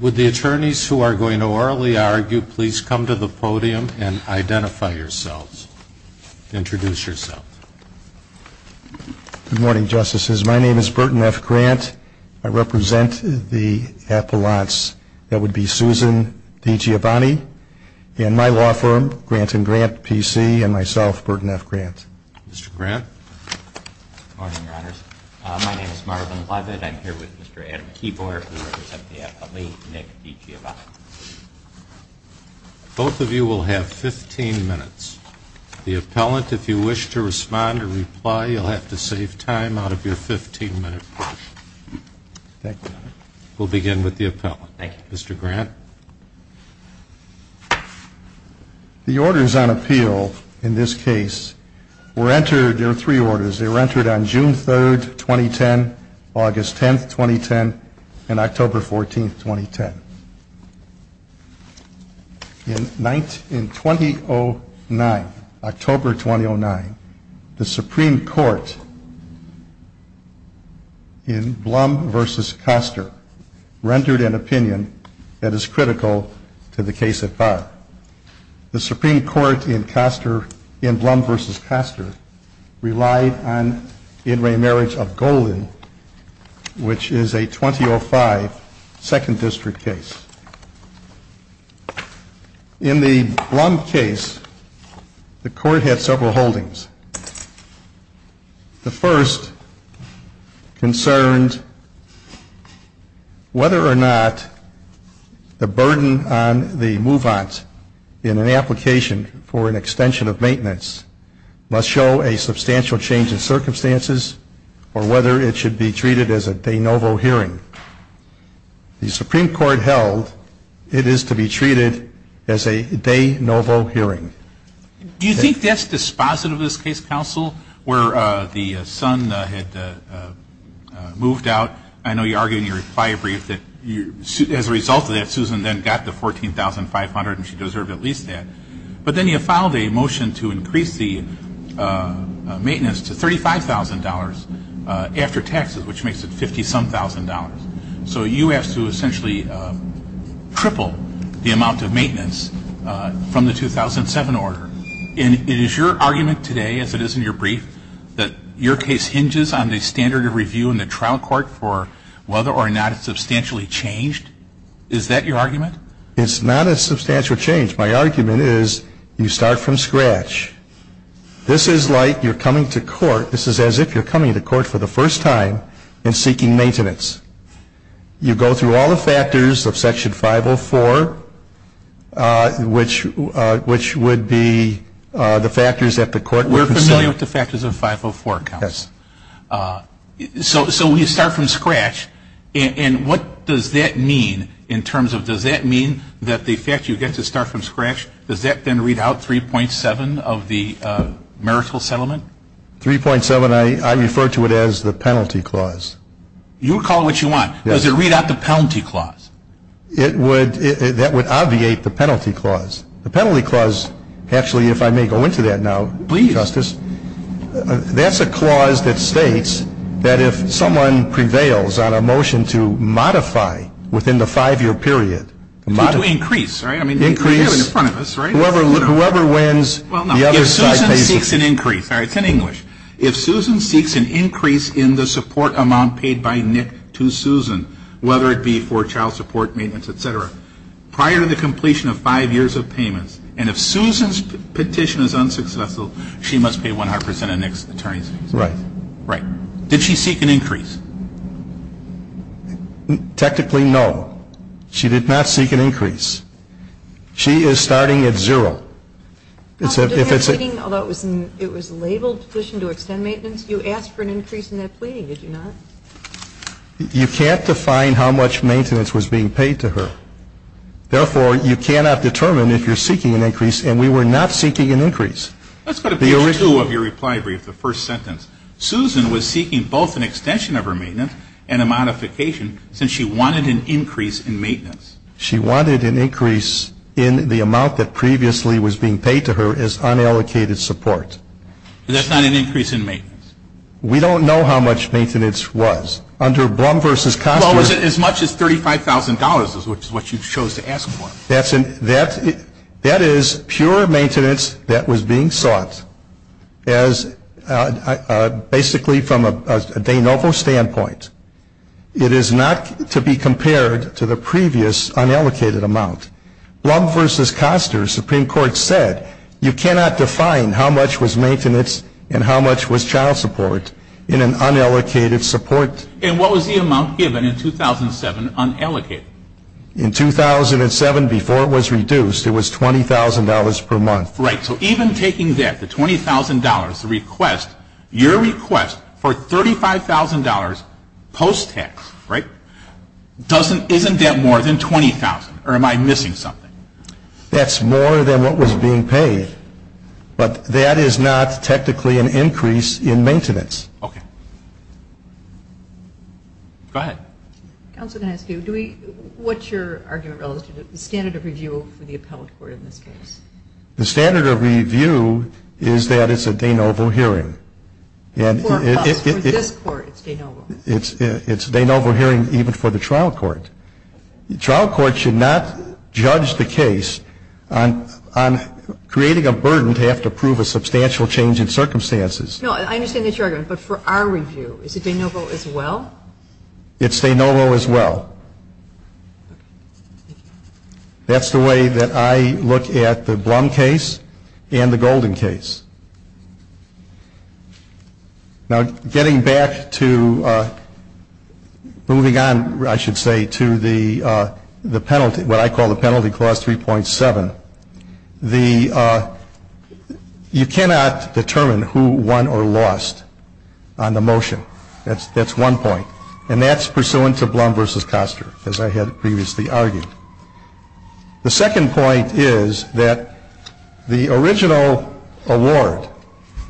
Would the attorneys who are going to orally argue, please come to the podium and identify yourselves, introduce yourself. Good morning, Justices. My name is Burton F. Grant. I represent the appellants. That would be Susan DiGiovanni and my law firm, Grant & Grant PC, and myself, Burton F. Grant. Mr. Grant. Good morning, Your Honors. My name is Marvin Leavitt. I'm here with Mr. Adam Keeboer, who represents the appellate, Nick DiGiovanni. Both of you will have 15 minutes. The appellant, if you wish to respond or reply, you'll have to save time out of your 15-minute portion. Thank you, Your Honor. We'll begin with the appellant. Thank you. Mr. Grant. The orders on appeal in this case were entered, there are three orders, they were entered on June 3, 2010, August 10, 2010, and October 14, 2010. In 2009, October 2009, the Supreme Court in Blum v. Koster rendered an opinion that is critical to the case at bar. The Supreme Court in Koster, in Blum v. Koster, relied on In Re Marriage of Golden, which is a 2005 Second District case. In the Blum case, the Court had several holdings. The first concerned whether or not the burden on the move-ons in an application for an extension of maintenance must show a substantial change in circumstances, or whether it should be treated as a de novo hearing. The Supreme Court held it is to be treated as a de novo hearing. Do you think that's dispositive of this case, counsel, where the son had moved out? I know you argued in your reply brief that as a result of that, Susan then got the $14,500 and she deserved at least that. But then you filed a motion to increase the maintenance to $35,000 after taxes, which makes it $50-some-thousand. So you have to essentially triple the amount of maintenance from the 2007 order. And it is your argument today, as it is in your brief, that your case hinges on the standard of review in the trial court for whether or not it's substantially changed? Is that your argument? It's not a substantial change. My argument is you start from scratch. This is like you're coming to court. This is as if you're coming to court for the first time and seeking maintenance. You go through all the factors of Section 504, which would be the factors that the court would consider. We're familiar with the factors of 504, counsel. Yes. So we start from scratch. And what does that mean in terms of does that mean that the fact you get to start from scratch, does that then read out 3.7 of the marital settlement? 3.7, I refer to it as the penalty clause. You call it what you want. Does it read out the penalty clause? It would. That would obviate the penalty clause. The penalty clause, actually, if I may go into that now, Justice. Please. That's a clause that states that if someone prevails on a motion to modify within the five-year period. To increase, right? Increase. In front of us, right? Whoever wins, the other side pays. If Susan seeks an increase. It's in English. If Susan seeks an increase in the support amount paid by Nick to Susan, whether it be for child support, maintenance, et cetera, prior to the completion of five years of payments, and if Susan's petition is unsuccessful, she must pay 100% of Nick's attorney's fees. Right. Right. Did she seek an increase? Technically, no. She did not seek an increase. She is starting at zero. Although it was labeled petition to extend maintenance, you asked for an increase in that pleading, did you not? You can't define how much maintenance was being paid to her. Therefore, you cannot determine if you're seeking an increase, and we were not seeking an increase. Let's go to page two of your reply brief, the first sentence. Susan was seeking both an extension of her maintenance and a modification since she wanted an increase in maintenance. She wanted an increase in the amount that previously was being paid to her as unallocated support. That's not an increase in maintenance. We don't know how much maintenance was. Under Blum v. Koster. Well, it was as much as $35,000, which is what you chose to ask for. That is pure maintenance that was being sought as basically from a de novo standpoint. It is not to be compared to the previous unallocated amount. Blum v. Koster, Supreme Court said, you cannot define how much was maintenance and how much was child support in an unallocated support. And what was the amount given in 2007 unallocated? In 2007, before it was reduced, it was $20,000 per month. Right. So even taking that, the $20,000, the request, your request for $35,000 post-tax, right, isn't that more than $20,000? Or am I missing something? That's more than what was being paid. But that is not technically an increase in maintenance. Okay. Go ahead. Counsel, can I ask you, do we, what's your argument relative to the standard of review for the appellate court in this case? The standard of review is that it's a de novo hearing. For us, for this court, it's de novo. It's de novo hearing even for the trial court. The trial court should not judge the case on creating a burden to have to prove a substantial change in circumstances. No, I understand that's your argument. But for our review, is it de novo as well? It's de novo as well. That's the way that I look at the Blum case and the Golden case. Now, getting back to moving on, I should say, to the penalty, what I call the Penalty Clause 3.7, the, you cannot determine who won or lost on the motion. That's one point. And that's pursuant to Blum v. Koster, as I had previously argued. The second point is that the original award,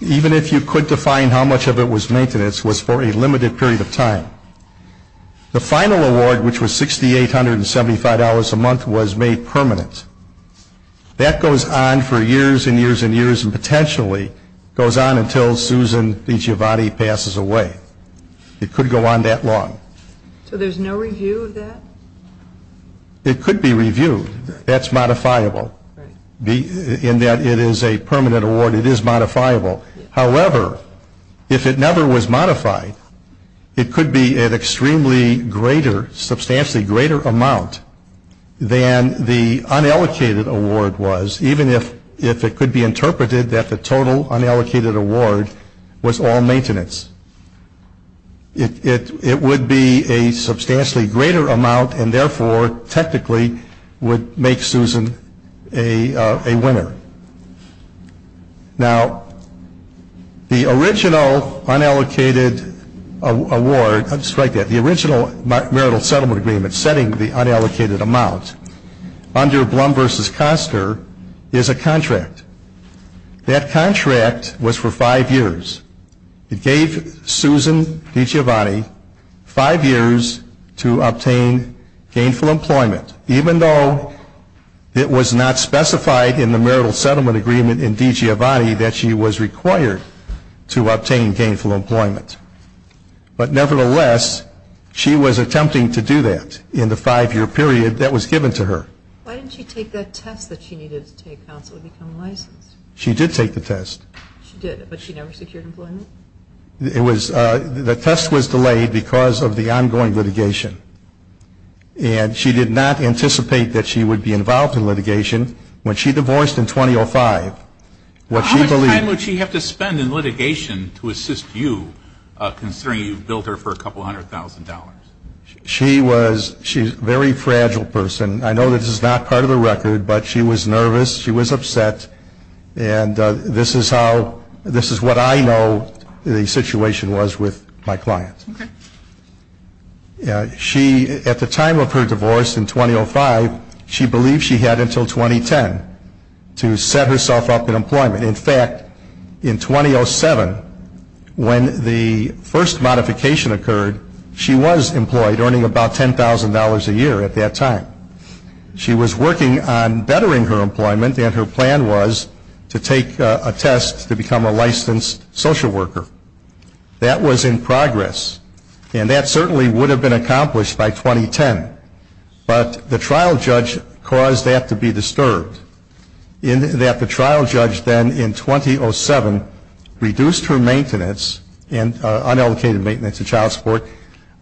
even if you could define how much of it was maintenance, was for a limited period of time. The final award, which was $6,875 a month, was made permanent. That goes on for years and years and years and potentially goes on until Susan DiGiovanni passes away. It could go on that long. So there's no review of that? It could be reviewed. That's modifiable. In that it is a permanent award, it is modifiable. However, if it never was modified, it could be an extremely greater, substantially greater amount than the unallocated award was, even if it could be interpreted that the total unallocated award was all maintenance. It would be a substantially greater amount and, therefore, technically would make Susan a winner. Now, the original unallocated award, I'll just write that, the original marital settlement agreement setting the unallocated amount under Blum v. Koster is a contract. That contract was for five years. It gave Susan DiGiovanni five years to obtain gainful employment, even though it was not specified in the marital settlement agreement in DiGiovanni that she was required to obtain gainful employment. But, nevertheless, she was attempting to do that in the five-year period that was given to her. Why didn't she take that test that she needed to take to become licensed? She did take the test. She did, but she never secured employment? It was, the test was delayed because of the ongoing litigation. And she did not anticipate that she would be involved in litigation. When she divorced in 2005, what she believed. How much time would she have to spend in litigation to assist you, considering you've billed her for a couple hundred thousand dollars? She was, she's a very fragile person. I know that this is not part of the record, but she was nervous. She was upset. And this is how, this is what I know the situation was with my client. Okay. She, at the time of her divorce in 2005, she believed she had until 2010 to set herself up in employment. In fact, in 2007, when the first modification occurred, she was employed, earning about $10,000 a year at that time. She was working on bettering her employment, and her plan was to take a test to become a licensed social worker. That was in progress. And that certainly would have been accomplished by 2010. But the trial judge caused that to be disturbed, in that the trial judge then in 2007 reduced her maintenance, unallocated maintenance of child support,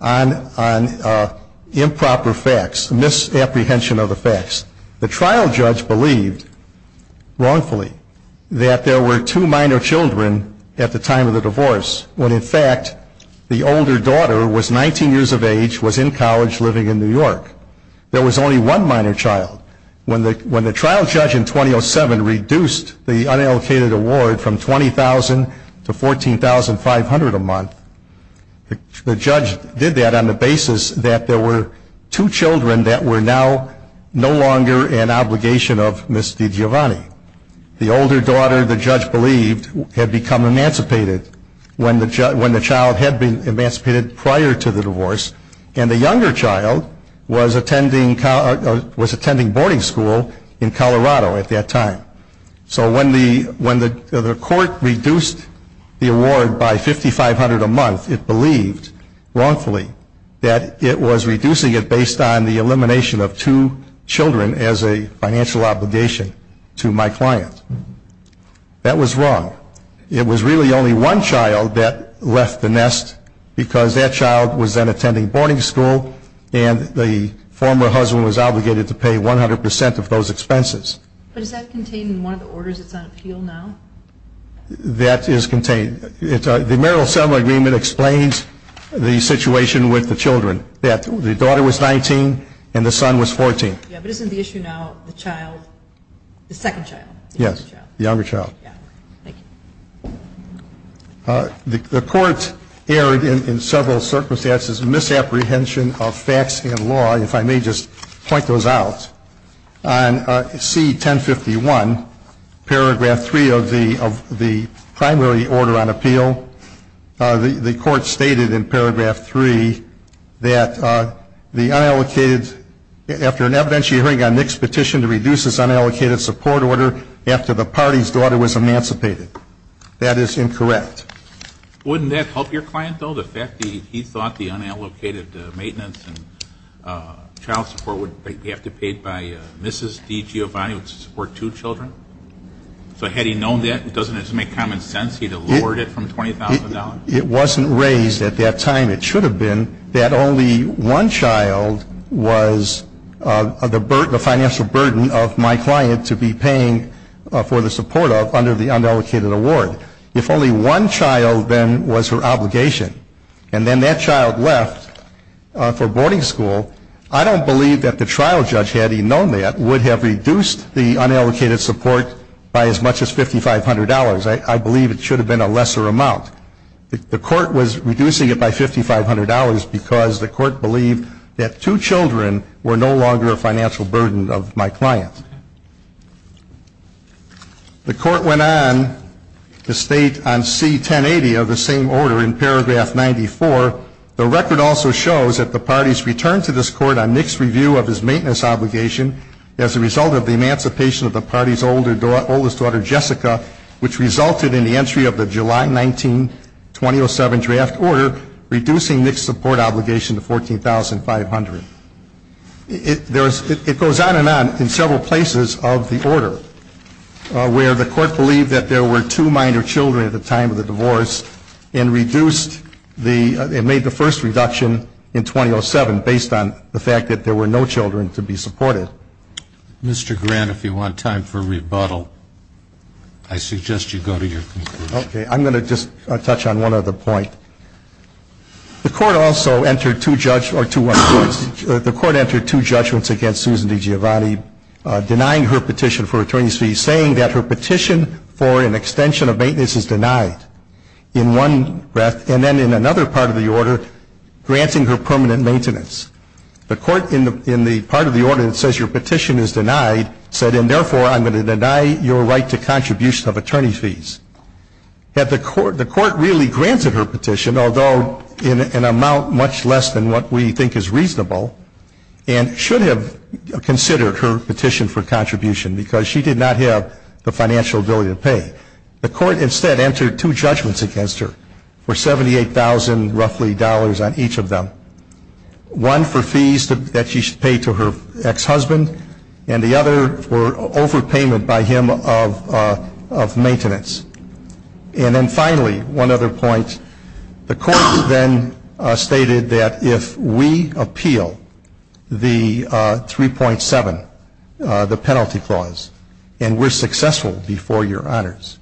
on improper facts, misapprehension of the facts. The trial judge believed, wrongfully, that there were two minor children at the time of the divorce, when in fact the older daughter was 19 years of age, was in college, living in New York. There was only one minor child. When the trial judge in 2007 reduced the unallocated award from $20,000 to $14,500 a month, the judge did that on the basis that there were two children that were now no longer an obligation of Ms. DiGiovanni. The older daughter, the judge believed, had become emancipated when the child had been emancipated prior to the divorce, and the younger child was attending boarding school in Colorado at that time. So when the court reduced the award by $5,500 a month, it believed, wrongfully, that it was reducing it based on the elimination of two children as a financial obligation to my client. That was wrong. It was really only one child that left the nest because that child was then attending boarding school and the former husband was obligated to pay 100% of those expenses. But is that contained in one of the orders that's on appeal now? That is contained. The marital settlement agreement explains the situation with the children, that the daughter was 19 and the son was 14. Yeah, but isn't the issue now the child, the second child? Yes, the younger child. The court erred in several circumstances, misapprehension of facts and law, if I may just point those out. On C-1051, paragraph 3 of the primary order on appeal, the court stated in paragraph 3 that the unallocated after an evidentiary hearing on Nick's petition to reduce this unallocated support order after the party's daughter was emancipated. That is incorrect. Wouldn't that help your client, though, the fact that he thought the unallocated maintenance and child support would have to be paid by Mrs. DiGiovanni to support two children? So had he known that, doesn't it just make common sense he would have lowered it from $20,000? It wasn't raised at that time. It should have been that only one child was the financial burden of my client to be paying for the support under the unallocated award. If only one child then was her obligation, and then that child left for boarding school, I don't believe that the trial judge, had he known that, would have reduced the unallocated support by as much as $5,500. I believe it should have been a lesser amount. The court was reducing it by $5,500 because the court believed that two children were no longer a financial burden of my client. The court went on to state on C-1080 of the same order in paragraph 94, the record also shows that the parties returned to this court on Nick's review of his maintenance obligation as a result of the emancipation of the party's oldest daughter, Jessica, which resulted in the entry of the July 19, 2007 draft order, reducing Nick's support obligation to $14,500. It goes on and on in several places of the order where the court believed that there were two minor children at the time of the divorce and reduced the, and made the first reduction in 2007 based on the fact that there were no children to be supported. Mr. Grant, if you want time for rebuttal, I suggest you go to your conclusion. Okay, I'm going to just touch on one other point. The court also entered two judgments against Susan DiGiovanni, denying her petition for attorney's fees, saying that her petition for an extension of maintenance is denied in one, and then in another part of the order, granting her permanent maintenance. The court in the part of the order that says your petition is denied said, and therefore I'm going to deny your right to contribution of attorney's fees. Had the court, the court really granted her petition, although in an amount much less than what we think is reasonable, and should have considered her petition for contribution because she did not have the financial ability to pay. The court instead entered two judgments against her for $78,000 roughly dollars on each of them. One for fees that she should pay to her ex-husband, and the other for overpayment by him of maintenance. And then finally, one other point, the court then stated that if we appeal the 3.7, the penalty clause, and we're successful before your honors,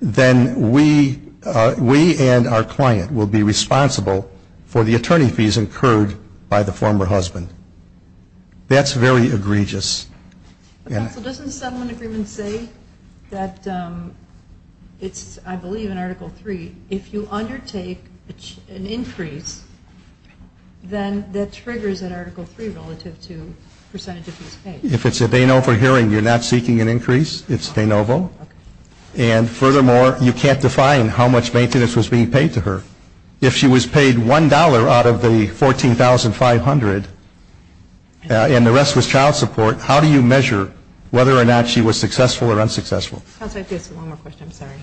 then we and our client will be responsible for the attorney fees incurred by the former husband. That's very egregious. Counsel, doesn't the settlement agreement say that it's, I believe in Article 3, if you undertake an increase, then that triggers an Article 3 relative to percentage of his pay. If it's a de novo hearing, you're not seeking an increase, it's de novo. And furthermore, you can't define how much maintenance was being paid to her. If she was paid $1 out of the $14,500, and the rest was child support, how do you measure whether or not she was successful or unsuccessful? Counsel, I have one more question, I'm sorry.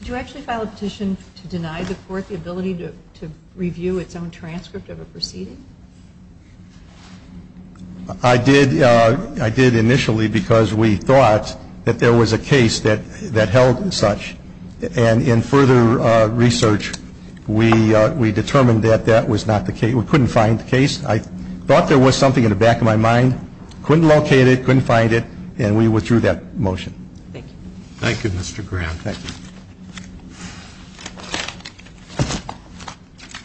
Did you actually file a petition to deny the court the ability to review its own transcript of a proceeding? I did initially because we thought that there was a case that held such. And in further research, we determined that that was not the case. We couldn't find the case. I thought there was something in the back of my mind, couldn't locate it, couldn't find it, and we withdrew that motion. Thank you. Thank you, Mr. Graham. Thank you.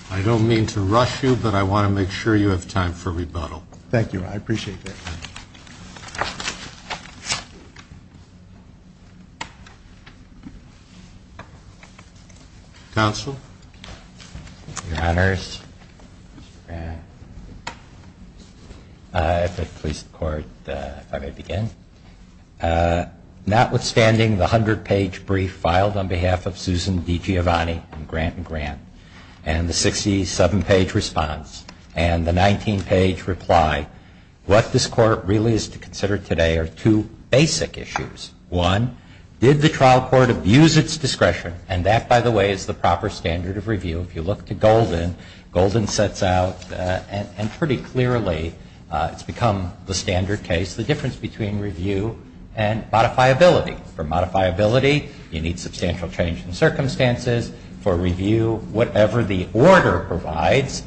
I don't mean to rush you, but I want to make sure you have time for rebuttal. Thank you. I appreciate that. Counsel? Your Honors, if I could please the Court if I may begin. Notwithstanding the 100-page brief filed on behalf of Susan DiGiovanni and Grant & Grant, and the 67-page response, and the 19-page reply, what this Court really is to consider today are two basic issues. One, did the trial court abuse its discretion? And that, by the way, is the proper standard of review. If you look to Golden, Golden sets out, and pretty clearly it's become the standard case, the difference between review and modifiability. For modifiability, you need substantial change in circumstances. For review, whatever the order provides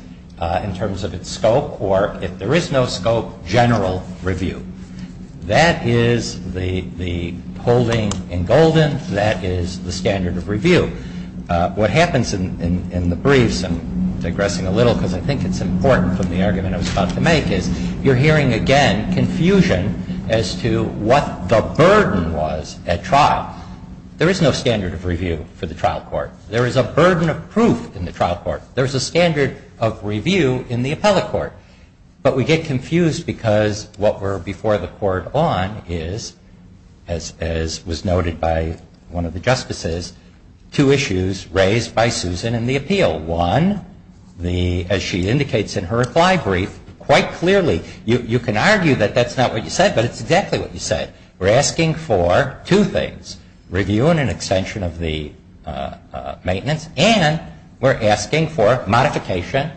in terms of its scope, or if there is no scope, general review. That is the holding in Golden. That is the standard of review. What happens in the briefs, and digressing a little because I think it's important from the argument I was about to make, is you're hearing again confusion as to what the burden was at trial. There is no standard of review for the trial court. There is a burden of proof in the trial court. There is a standard of review in the appellate court. But we get confused because what were before the Court on is, as was noted by one of the justices, two issues raised by Susan in the appeal. One, as she indicates in her reply brief, quite clearly, you can argue that that's not what you said, but it's exactly what you said. We're asking for two things, review and an extension of the maintenance, and we're asking for modification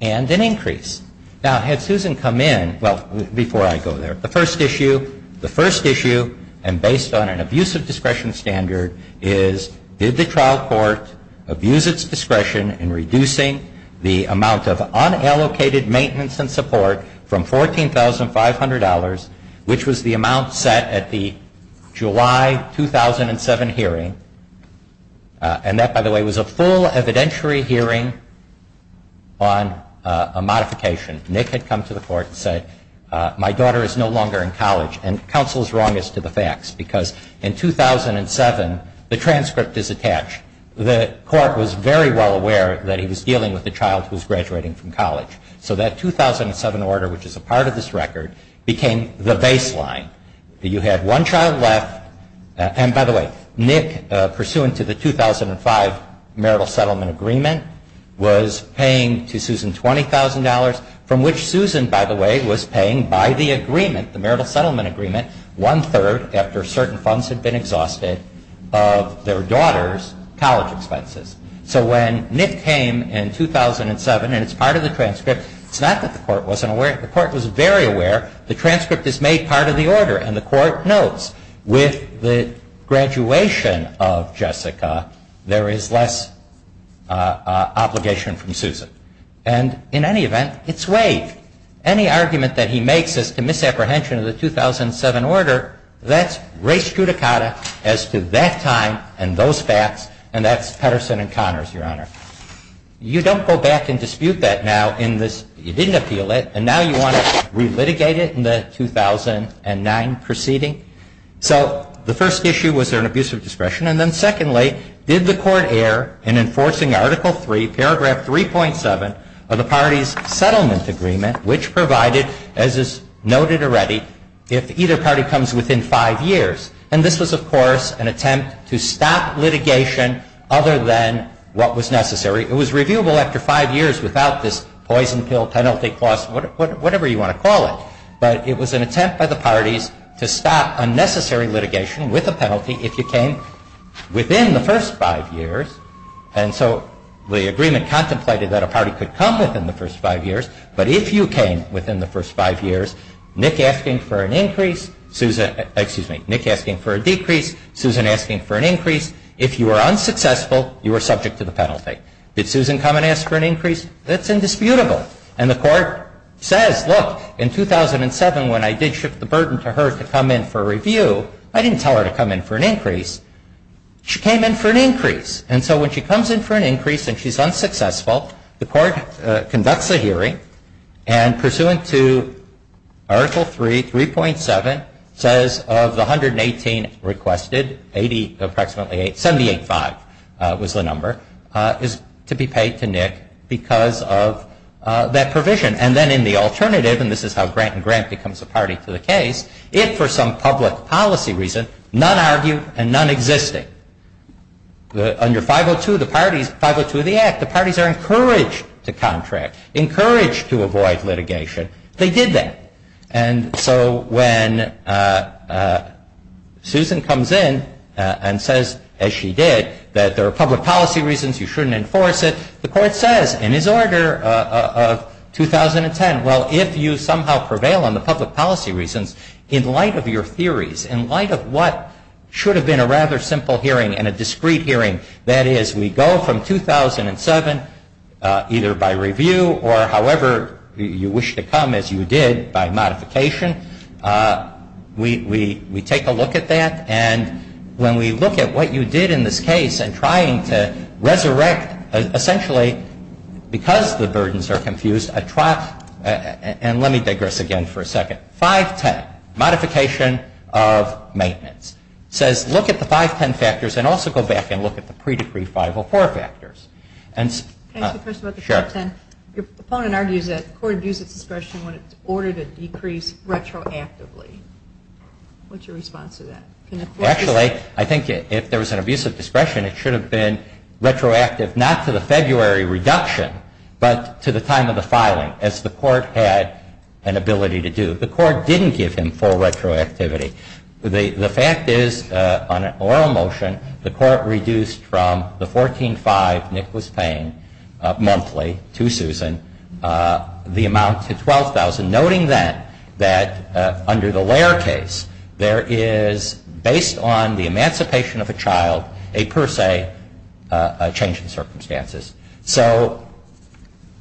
and an increase. Now, had Susan come in, well, before I go there, the first issue, the first issue, and based on an abusive discretion standard, is did the trial court abuse its discretion in reducing the amount of unallocated maintenance and support from $14,500, which was the amount set at the July 2007 hearing. And that, by the way, was a full evidentiary hearing on a modification. Nick had come to the court and said, my daughter is no longer in college. And counsel is wrong as to the facts, because in 2007, the transcript is attached. The court was very well aware that he was dealing with a child who was graduating from college. So that 2007 order, which is a part of this record, became the baseline. You had one child left. And, by the way, Nick, pursuant to the 2005 marital settlement agreement, was paying to Susan $20,000, from which Susan, by the way, was paying by the agreement, the marital settlement agreement, one-third, after certain funds had been exhausted, of their daughter's college expenses. So when Nick came in 2007, and it's part of the transcript, it's not that the court wasn't aware. The court was very aware. The transcript is made part of the order. And the court notes, with the graduation of Jessica, there is less obligation from Susan. And, in any event, it's waived. Any argument that he makes as to misapprehension of the 2007 order, that's res judicata as to that time and those facts, and that's Petterson and Connors, Your Honor. You don't go back and dispute that now in this. You didn't appeal it. And now you want to relitigate it in the 2009 proceeding. So the first issue, was there an abuse of discretion? And then, secondly, did the court err in enforcing Article III, paragraph 3.7, of the party's settlement agreement, which provided, as is noted already, if either party comes within five years. And this was, of course, an attempt to stop litigation other than what was necessary. It was reviewable after five years without this poison pill penalty clause, whatever you want to call it. But it was an attempt by the parties to stop unnecessary litigation with a penalty if you came within the first five years. And so the agreement contemplated that a party could come within the first five years. But if you came within the first five years, Nick asking for an increase, Susan, excuse me, Nick asking for a decrease, Susan asking for an increase. If you were unsuccessful, you were subject to the penalty. Did Susan come and ask for an increase? That's indisputable. And the court says, look, in 2007 when I did shift the burden to her to come in for review, I didn't tell her to come in for an increase. She came in for an increase. And so when she comes in for an increase and she's unsuccessful, the court conducts a hearing and pursuant to Article III, 3.7, says of the 118 requested, approximately 78-5 was the number, is to be paid to Nick because of that provision. And then in the alternative, and this is how Grant and Grant becomes a party to the case, if for some public policy reason, none argued and none existing, under 502 of the Act, the parties are encouraged to contract, encouraged to avoid litigation. They did that. And so when Susan comes in and says, as she did, that there are public policy reasons, you shouldn't enforce it, the court says in its order of 2010, well, if you somehow prevail on the public policy reasons, in light of your theories, in light of what should have been a rather simple hearing and a discrete hearing, that is, we go from 2007, either by review or however you wish to come, as you did, by modification. We take a look at that. And when we look at what you did in this case in trying to resurrect, essentially because the burdens are confused, and let me digress again for a second. 510, modification of maintenance. It says look at the 510 factors and also go back and look at the pre-decree 504 factors. Can I ask you a question about the 510? Sure. Your opponent argues that the court abused its discretion in order to decrease retroactively. What's your response to that? Actually, I think if there was an abuse of discretion, it should have been retroactive, not to the February reduction, but to the time of the filing, as the court had an ability to do. The court didn't give him full retroactivity. The fact is, on an oral motion, the court reduced from the $14,500 Nick was paying monthly to Susan, the amount to $12,000, noting then that under the Lair case, there is, based on the emancipation of a child, a per se change in circumstances. So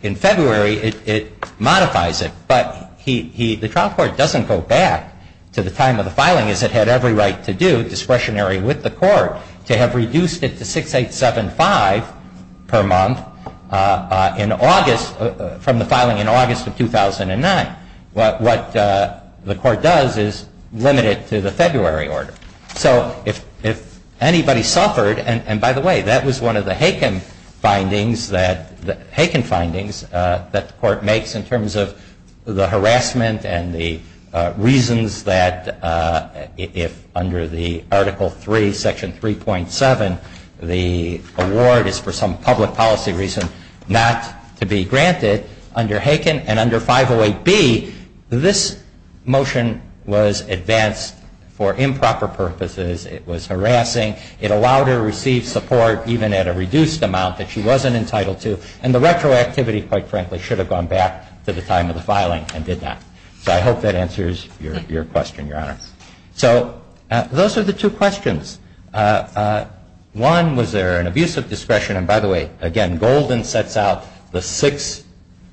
in February, it modifies it. But the trial court doesn't go back to the time of the filing, as it had every right to do, discretionary with the court, to have reduced it to $6,875 per month from the filing in August of 2009. What the court does is limit it to the February order. So if anybody suffered, and by the way, that was one of the Haken findings that the court makes, in terms of the harassment and the reasons that if under the Article 3, Section 3.7, the award is for some public policy reason not to be granted, under Haken and under 508B, this motion was advanced for improper purposes. It was harassing. It allowed her to receive support even at a reduced amount that she wasn't entitled to. And the retroactivity, quite frankly, should have gone back to the time of the filing and did not. So I hope that answers your question, Your Honor. So those are the two questions. One, was there an abuse of discretion? And by the way, again, Golden sets out the six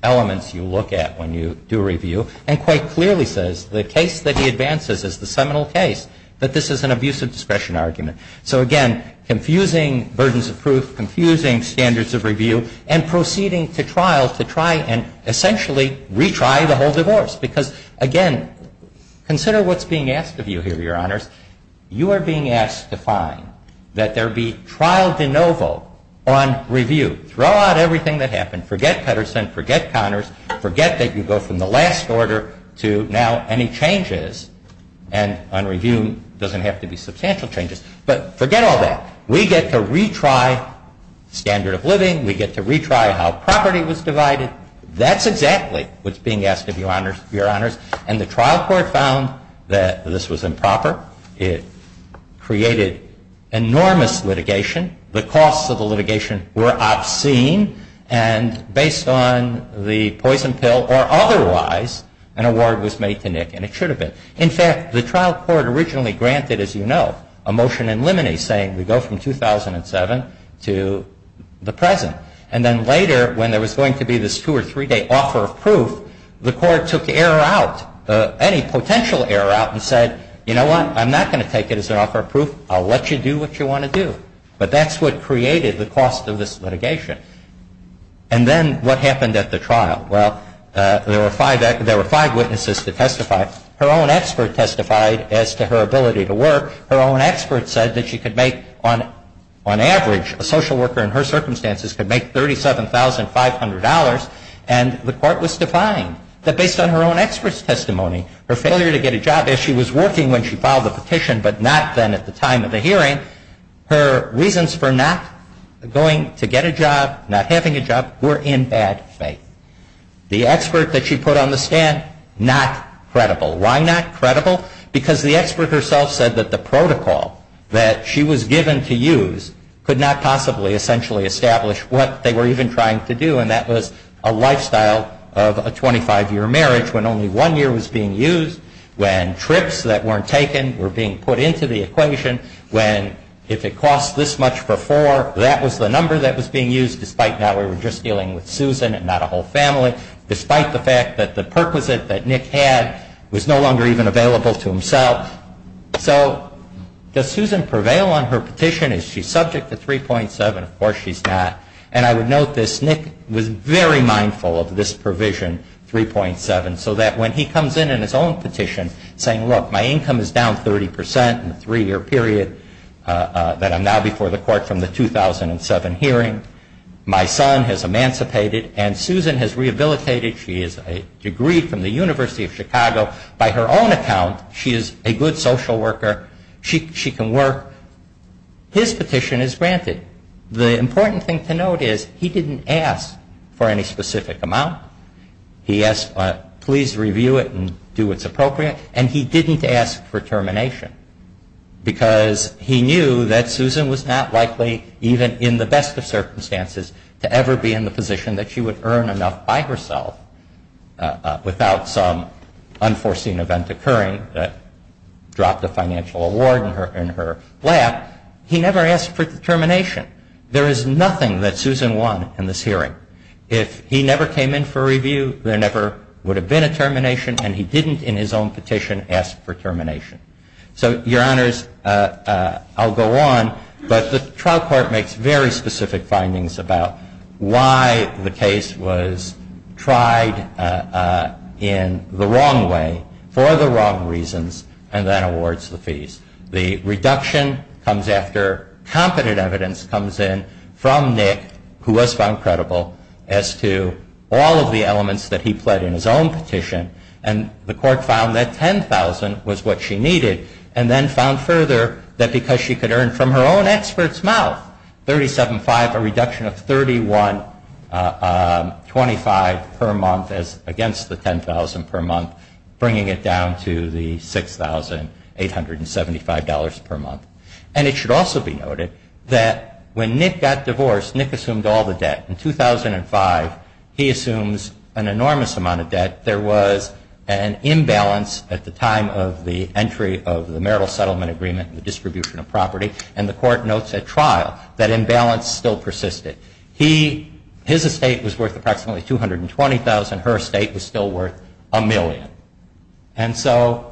elements you look at when you do review and quite clearly says the case that he advances is the seminal case, that this is an abuse of discretion argument. So, again, confusing burdens of proof, confusing standards of review, and proceeding to trial to try and essentially retry the whole divorce. Because, again, consider what's being asked of you here, Your Honors. You are being asked to find that there be trial de novo on review. Throw out everything that happened. Forget Pedersen. Forget Connors. Forget that you go from the last order to now any changes. And on review, it doesn't have to be substantial changes. But forget all that. We get to retry standard of living. We get to retry how property was divided. That's exactly what's being asked of you, Your Honors. And the trial court found that this was improper. It created enormous litigation. The costs of the litigation were obscene. And based on the poison pill or otherwise, an award was made to Nick, and it should have been. In fact, the trial court originally granted, as you know, a motion in limine saying we go from 2007 to the present. And then later, when there was going to be this two- or three-day offer of proof, the court took the error out, any potential error out, and said, you know what? I'm not going to take it as an offer of proof. I'll let you do what you want to do. But that's what created the cost of this litigation. And then what happened at the trial? Well, there were five witnesses to testify. Her own expert testified as to her ability to work. Her own expert said that she could make, on average, a social worker in her circumstances could make $37,500. And the court was defiant that based on her own expert's testimony, her failure to get a job as she was working when she filed the petition, but not then at the time of the hearing, her reasons for not going to get a job, not having a job, were in bad faith. The expert that she put on the stand, not credible. Why not credible? Because the expert herself said that the protocol that she was given to use could not possibly essentially establish what they were even trying to do. And that was a lifestyle of a 25-year marriage when only one year was being used, when trips that weren't taken were being put into the equation, when if it costs this much for four, that was the number that was being used, despite now we were just dealing with Susan and not a whole family, despite the fact that the perquisite that Nick had was no longer even available to himself. So does Susan prevail on her petition? Is she subject to 3.7? Of course she's not. And I would note this. Nick was very mindful of this provision, 3.7, so that when he comes in in his own petition saying, look, my income is down 30 percent in the three-year period that I'm now before the court from the 2007 hearing, my son has emancipated, and Susan has rehabilitated. She has a degree from the University of Chicago. By her own account, she is a good social worker. She can work. His petition is granted. The important thing to note is he didn't ask for any specific amount. He asked, please review it and do what's appropriate, and he didn't ask for termination because he knew that Susan was not likely, even in the best of circumstances, to ever be in the position that she would earn enough by herself without some unforeseen event occurring that dropped a financial award in her lap. He never asked for termination. There is nothing that Susan won in this hearing. If he never came in for review, there never would have been a termination, and he didn't, in his own petition, ask for termination. So, Your Honors, I'll go on, but the trial court makes very specific findings about why the case was tried in the wrong way, for the wrong reasons, and then awards the fees. The reduction comes after competent evidence comes in from Nick, who was found credible as to all of the elements that he pled in his own petition, and the court found that $10,000 was what she needed and then found further that because she could earn from her own expert's mouth, $3,750, a reduction of $3,125 per month against the $10,000 per month, bringing it down to the $6,875 per month. And it should also be noted that when Nick got divorced, Nick assumed all the debt. In 2005, he assumes an enormous amount of debt. There was an imbalance at the time of the entry of the marital settlement agreement and the distribution of property, and the court notes at trial that imbalance still persisted. His estate was worth approximately $220,000. Her estate was still worth a million. And so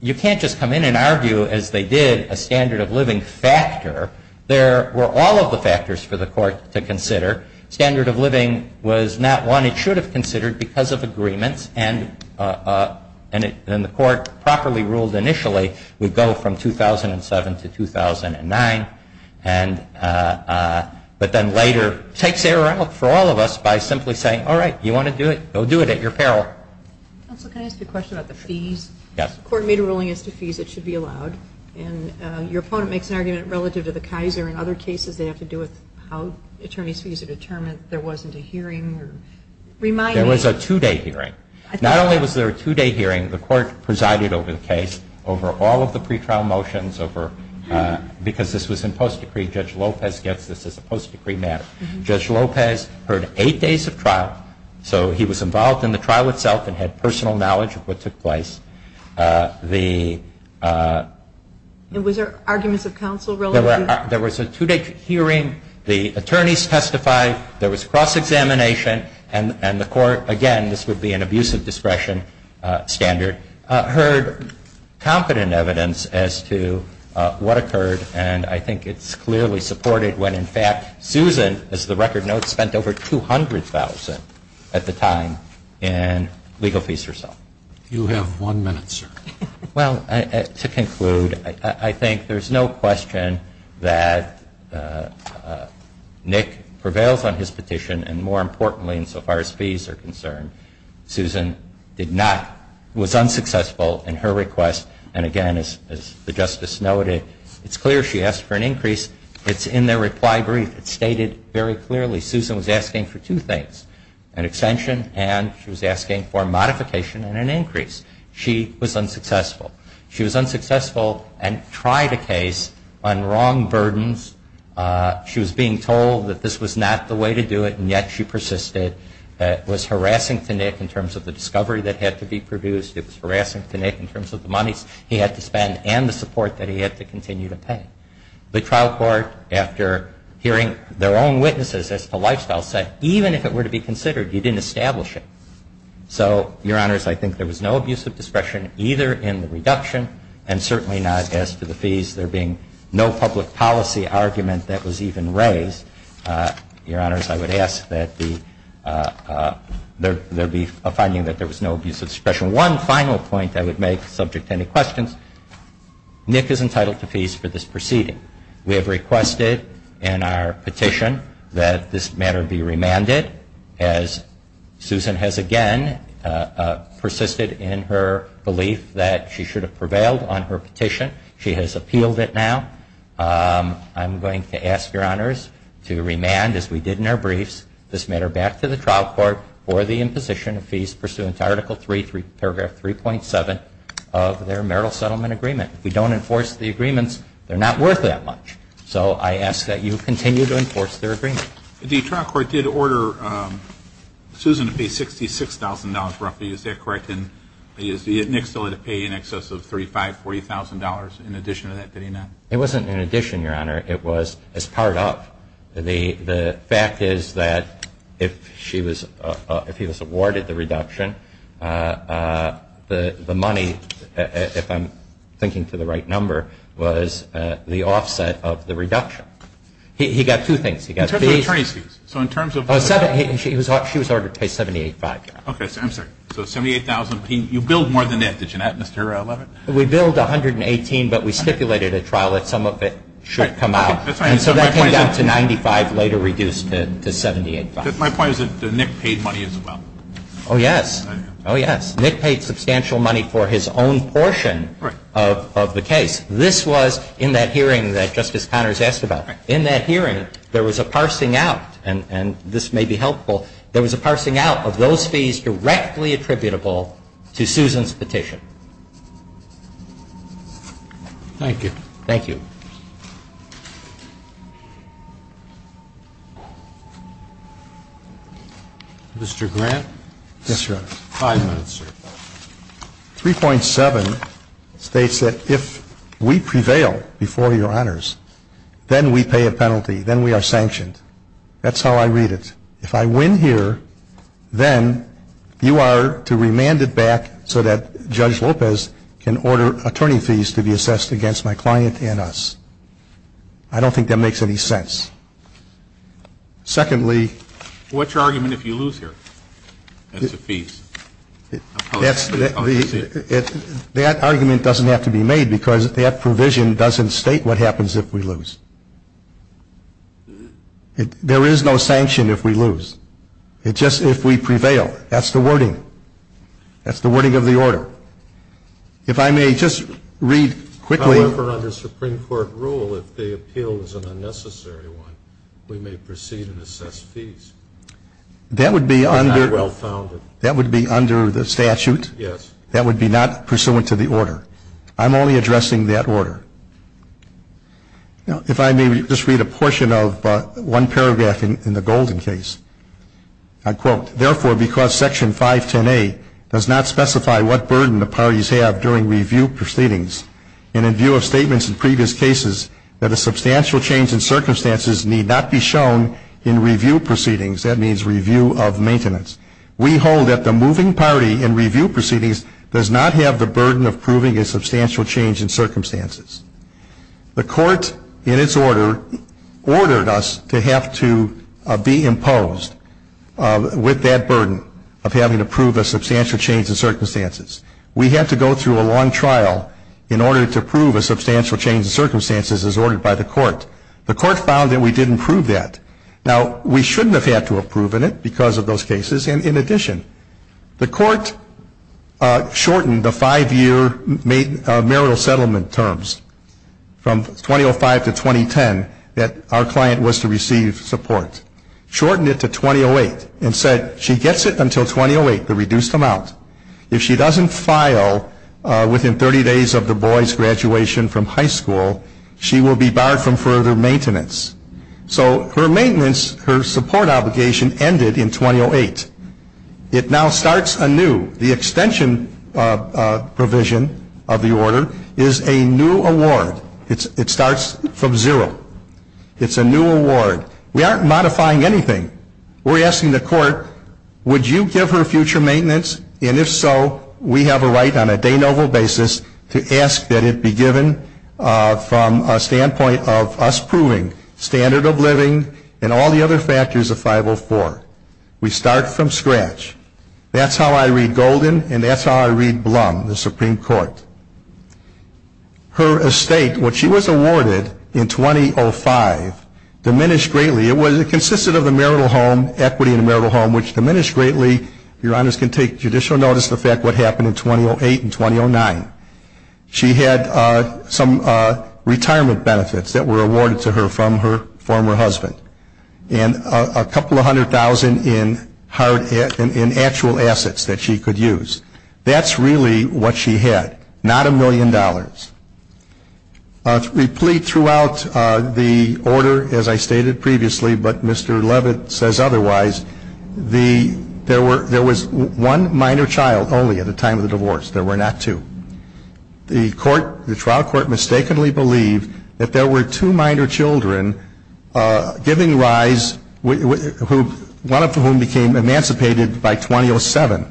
you can't just come in and argue, as they did, a standard of living factor. There were all of the factors for the court to consider. Standard of living was not one it should have considered because of agreements, and the court properly ruled initially would go from 2007 to 2009, but then later takes error out for all of us by simply saying, all right, you want to do it, go do it at your peril. Counsel, can I ask a question about the fees? Yes. If the court made a ruling as to fees, it should be allowed. And your opponent makes an argument relative to the Kaiser and other cases they have to do with how attorneys' fees are determined. There wasn't a hearing. There was a two-day hearing. Not only was there a two-day hearing, the court presided over the case, over all of the pretrial motions, because this was in post-decree. Judge Lopez gets this as a post-decree matter. Judge Lopez heard eight days of trial, so he was involved in the trial itself and had personal knowledge of what took place. Was there arguments of counsel relative? There was a two-day hearing. The attorneys testified. There was cross-examination. And the court, again, this would be an abusive discretion standard, heard competent evidence as to what occurred, and I think it's clearly supported when, in fact, Susan, as the record notes, spent over $200,000 at the time in legal fees herself. You have one minute, sir. Well, to conclude, I think there's no question that Nick prevails on his petition and, more importantly, insofar as fees are concerned, Susan was unsuccessful in her request. And, again, as the Justice noted, it's clear she asked for an increase. It's in their reply brief. It stated very clearly Susan was asking for two things, an extension, and she was asking for a modification and an increase. She was unsuccessful. She was unsuccessful and tried a case on wrong burdens. She was being told that this was not the way to do it, and yet she persisted. It was harassing to Nick in terms of the discovery that had to be produced. It was harassing to Nick in terms of the monies he had to spend and the support that he had to continue to pay. The trial court, after hearing their own witnesses as to lifestyle, said even if it were to be considered, you didn't establish it. So, Your Honors, I think there was no abusive discretion either in the reduction and certainly not as to the fees. There being no public policy argument that was even raised, Your Honors, I would ask that there be a finding that there was no abusive discretion. One final point I would make, subject to any questions, Nick is entitled to fees for this proceeding. We have requested in our petition that this matter be remanded, as Susan has again persisted in her belief that she should have prevailed on her petition. She has appealed it now. I'm going to ask, Your Honors, to remand, as we did in our briefs, this matter back to the trial court for the imposition of fees pursuant to Article 3, Paragraph 3.7 of their marital settlement agreement. If we don't enforce the agreements, they're not worth that much. So I ask that you continue to enforce their agreement. The trial court did order Susan to pay $66,000, roughly. Is that correct? And Nick still had to pay in excess of $35,000, $40,000 in addition to that, did he not? It wasn't in addition, Your Honor. It was as part of. The fact is that if he was awarded the reduction, the money, if he was awarded the reduction, he got two things. He got fees. She was ordered to pay $78,000. Okay. I'm sorry. So $78,000. You billed more than that, did you not, Mr. Levin? We billed $118,000, but we stipulated at trial that some of it should come out. And so that came down to $95,000, later reduced to $78,000. My point is that Nick paid money as well. Oh, yes. Oh, yes. Nick paid substantial money for his own portion of the case. This was in that hearing that Justice Connors asked about. In that hearing, there was a parsing out, and this may be helpful, there was a parsing out of those fees directly attributable to Susan's petition. Thank you. Mr. Grant? Yes, Your Honor. Five minutes, sir. 3.7 states that if we prevail before Your Honors, then we pay a penalty, then we are sanctioned. That's how I read it. If I win here, then you are to remand it back so that Judge Lopez can order attorney fees to be assessed against my client and us. I don't think that makes any sense. Secondly. What's your argument if you lose here? That's the fees. That argument doesn't have to be made because that provision doesn't state what happens if we lose. There is no sanction if we lose. It's just if we prevail. That's the wording. That's the wording of the order. If I may just read quickly. However, under Supreme Court rule, if the appeal is an unnecessary one, we may proceed and assess fees. That would be under the statute. Yes. That would be not pursuant to the order. I'm only addressing that order. If I may just read a portion of one paragraph in the Golden case. I quote. Therefore, because Section 510A does not specify what burden the parties have during review proceedings, and in view of statements in previous cases, that a substantial change in circumstances need not be shown in review proceedings. That means review of maintenance. We hold that the moving party in review proceedings does not have the burden of proving a substantial change in circumstances. The court, in its order, ordered us to have to be imposed with that burden of having to prove a substantial change in circumstances. We had to go through a long trial in order to prove a substantial change in circumstances as ordered by the court. The court found that we didn't prove that. Now, we shouldn't have had to have proven it because of those cases. And in addition, the court shortened the five-year marital settlement terms from 2005 to 2010 that our client was to receive support. Shortened it to 2008 and said she gets it until 2008, the reduced amount. If she doesn't file within 30 days of the boy's graduation from high school, she will be barred from further maintenance. So her maintenance, her support obligation, ended in 2008. It now starts anew. The extension provision of the order is a new award. It starts from zero. It's a new award. We aren't modifying anything. We're asking the court, would you give her future maintenance? And if so, we have a right on a de novo basis to ask that it be given from a standpoint of us proving standard of living and all the other factors of 504. We start from scratch. That's how I read Golden and that's how I read Blum, the Supreme Court. Her estate, when she was awarded in 2005, diminished greatly. It consisted of the marital home, equity in the marital home, which diminished greatly. Your Honors can take judicial notice of the fact what happened in 2008 and 2009. She had some retirement benefits that were awarded to her from her former husband. And a couple of hundred thousand in actual assets that she could use. That's really what she had, not a million dollars. We plead throughout the order, as I stated previously, but Mr. Leavitt says otherwise. There was one minor child only at the time of the divorce. There were not two. The trial court mistakenly believed that there were two minor children giving rise, one of whom became emancipated by 2007,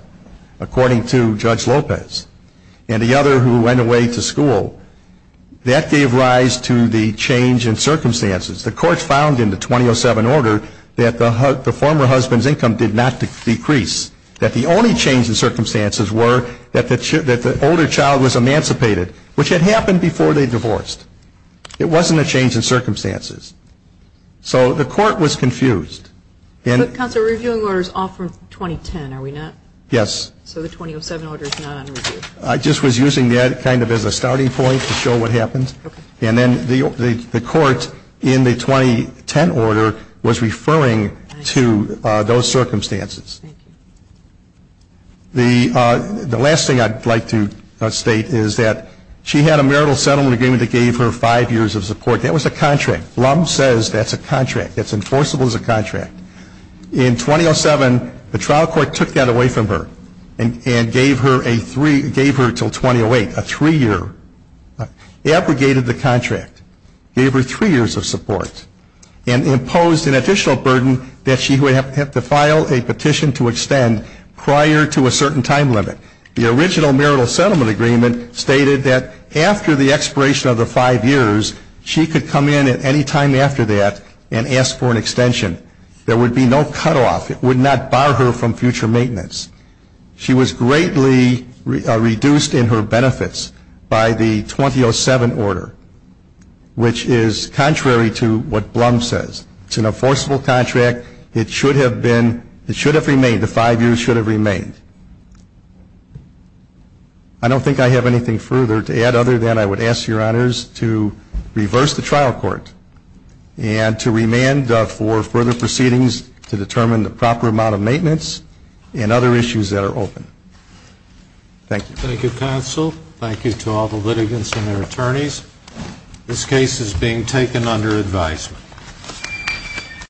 according to Judge Lopez. And the other who went away to school. That gave rise to the change in circumstances. The court found in the 2007 order that the former husband's income did not decrease. That the only change in circumstances were that the older child was emancipated, which had happened before they divorced. It wasn't a change in circumstances. So the court was confused. Counsel, the reviewing order is off from 2010, are we not? Yes. So the 2007 order is not on review. I just was using that kind of as a starting point to show what happened. Okay. And then the court in the 2010 order was referring to those circumstances. Thank you. The last thing I'd like to state is that she had a marital settlement agreement that gave her five years of support. That was a contract. Blum says that's a contract. It's enforceable as a contract. In 2007, the trial court took that away from her and gave her until 2008, a three-year. Abrogated the contract. Gave her three years of support. And imposed an additional burden that she would have to file a petition to extend prior to a certain time limit. The original marital settlement agreement stated that after the expiration of the five years, she could come in at any time after that and ask for an extension. There would be no cutoff. It would not bar her from future maintenance. She was greatly reduced in her benefits by the 2007 order, which is contrary to what Blum says. It's an enforceable contract. It should have been, it should have remained, the five years should have remained. I don't think I have anything further to add other than I would ask your honors to reverse the trial court and to remand for further proceedings to determine the proper amount of maintenance and other issues that are open. Thank you. Thank you, counsel. Thank you to all the litigants and their attorneys. This case is being taken under advisement.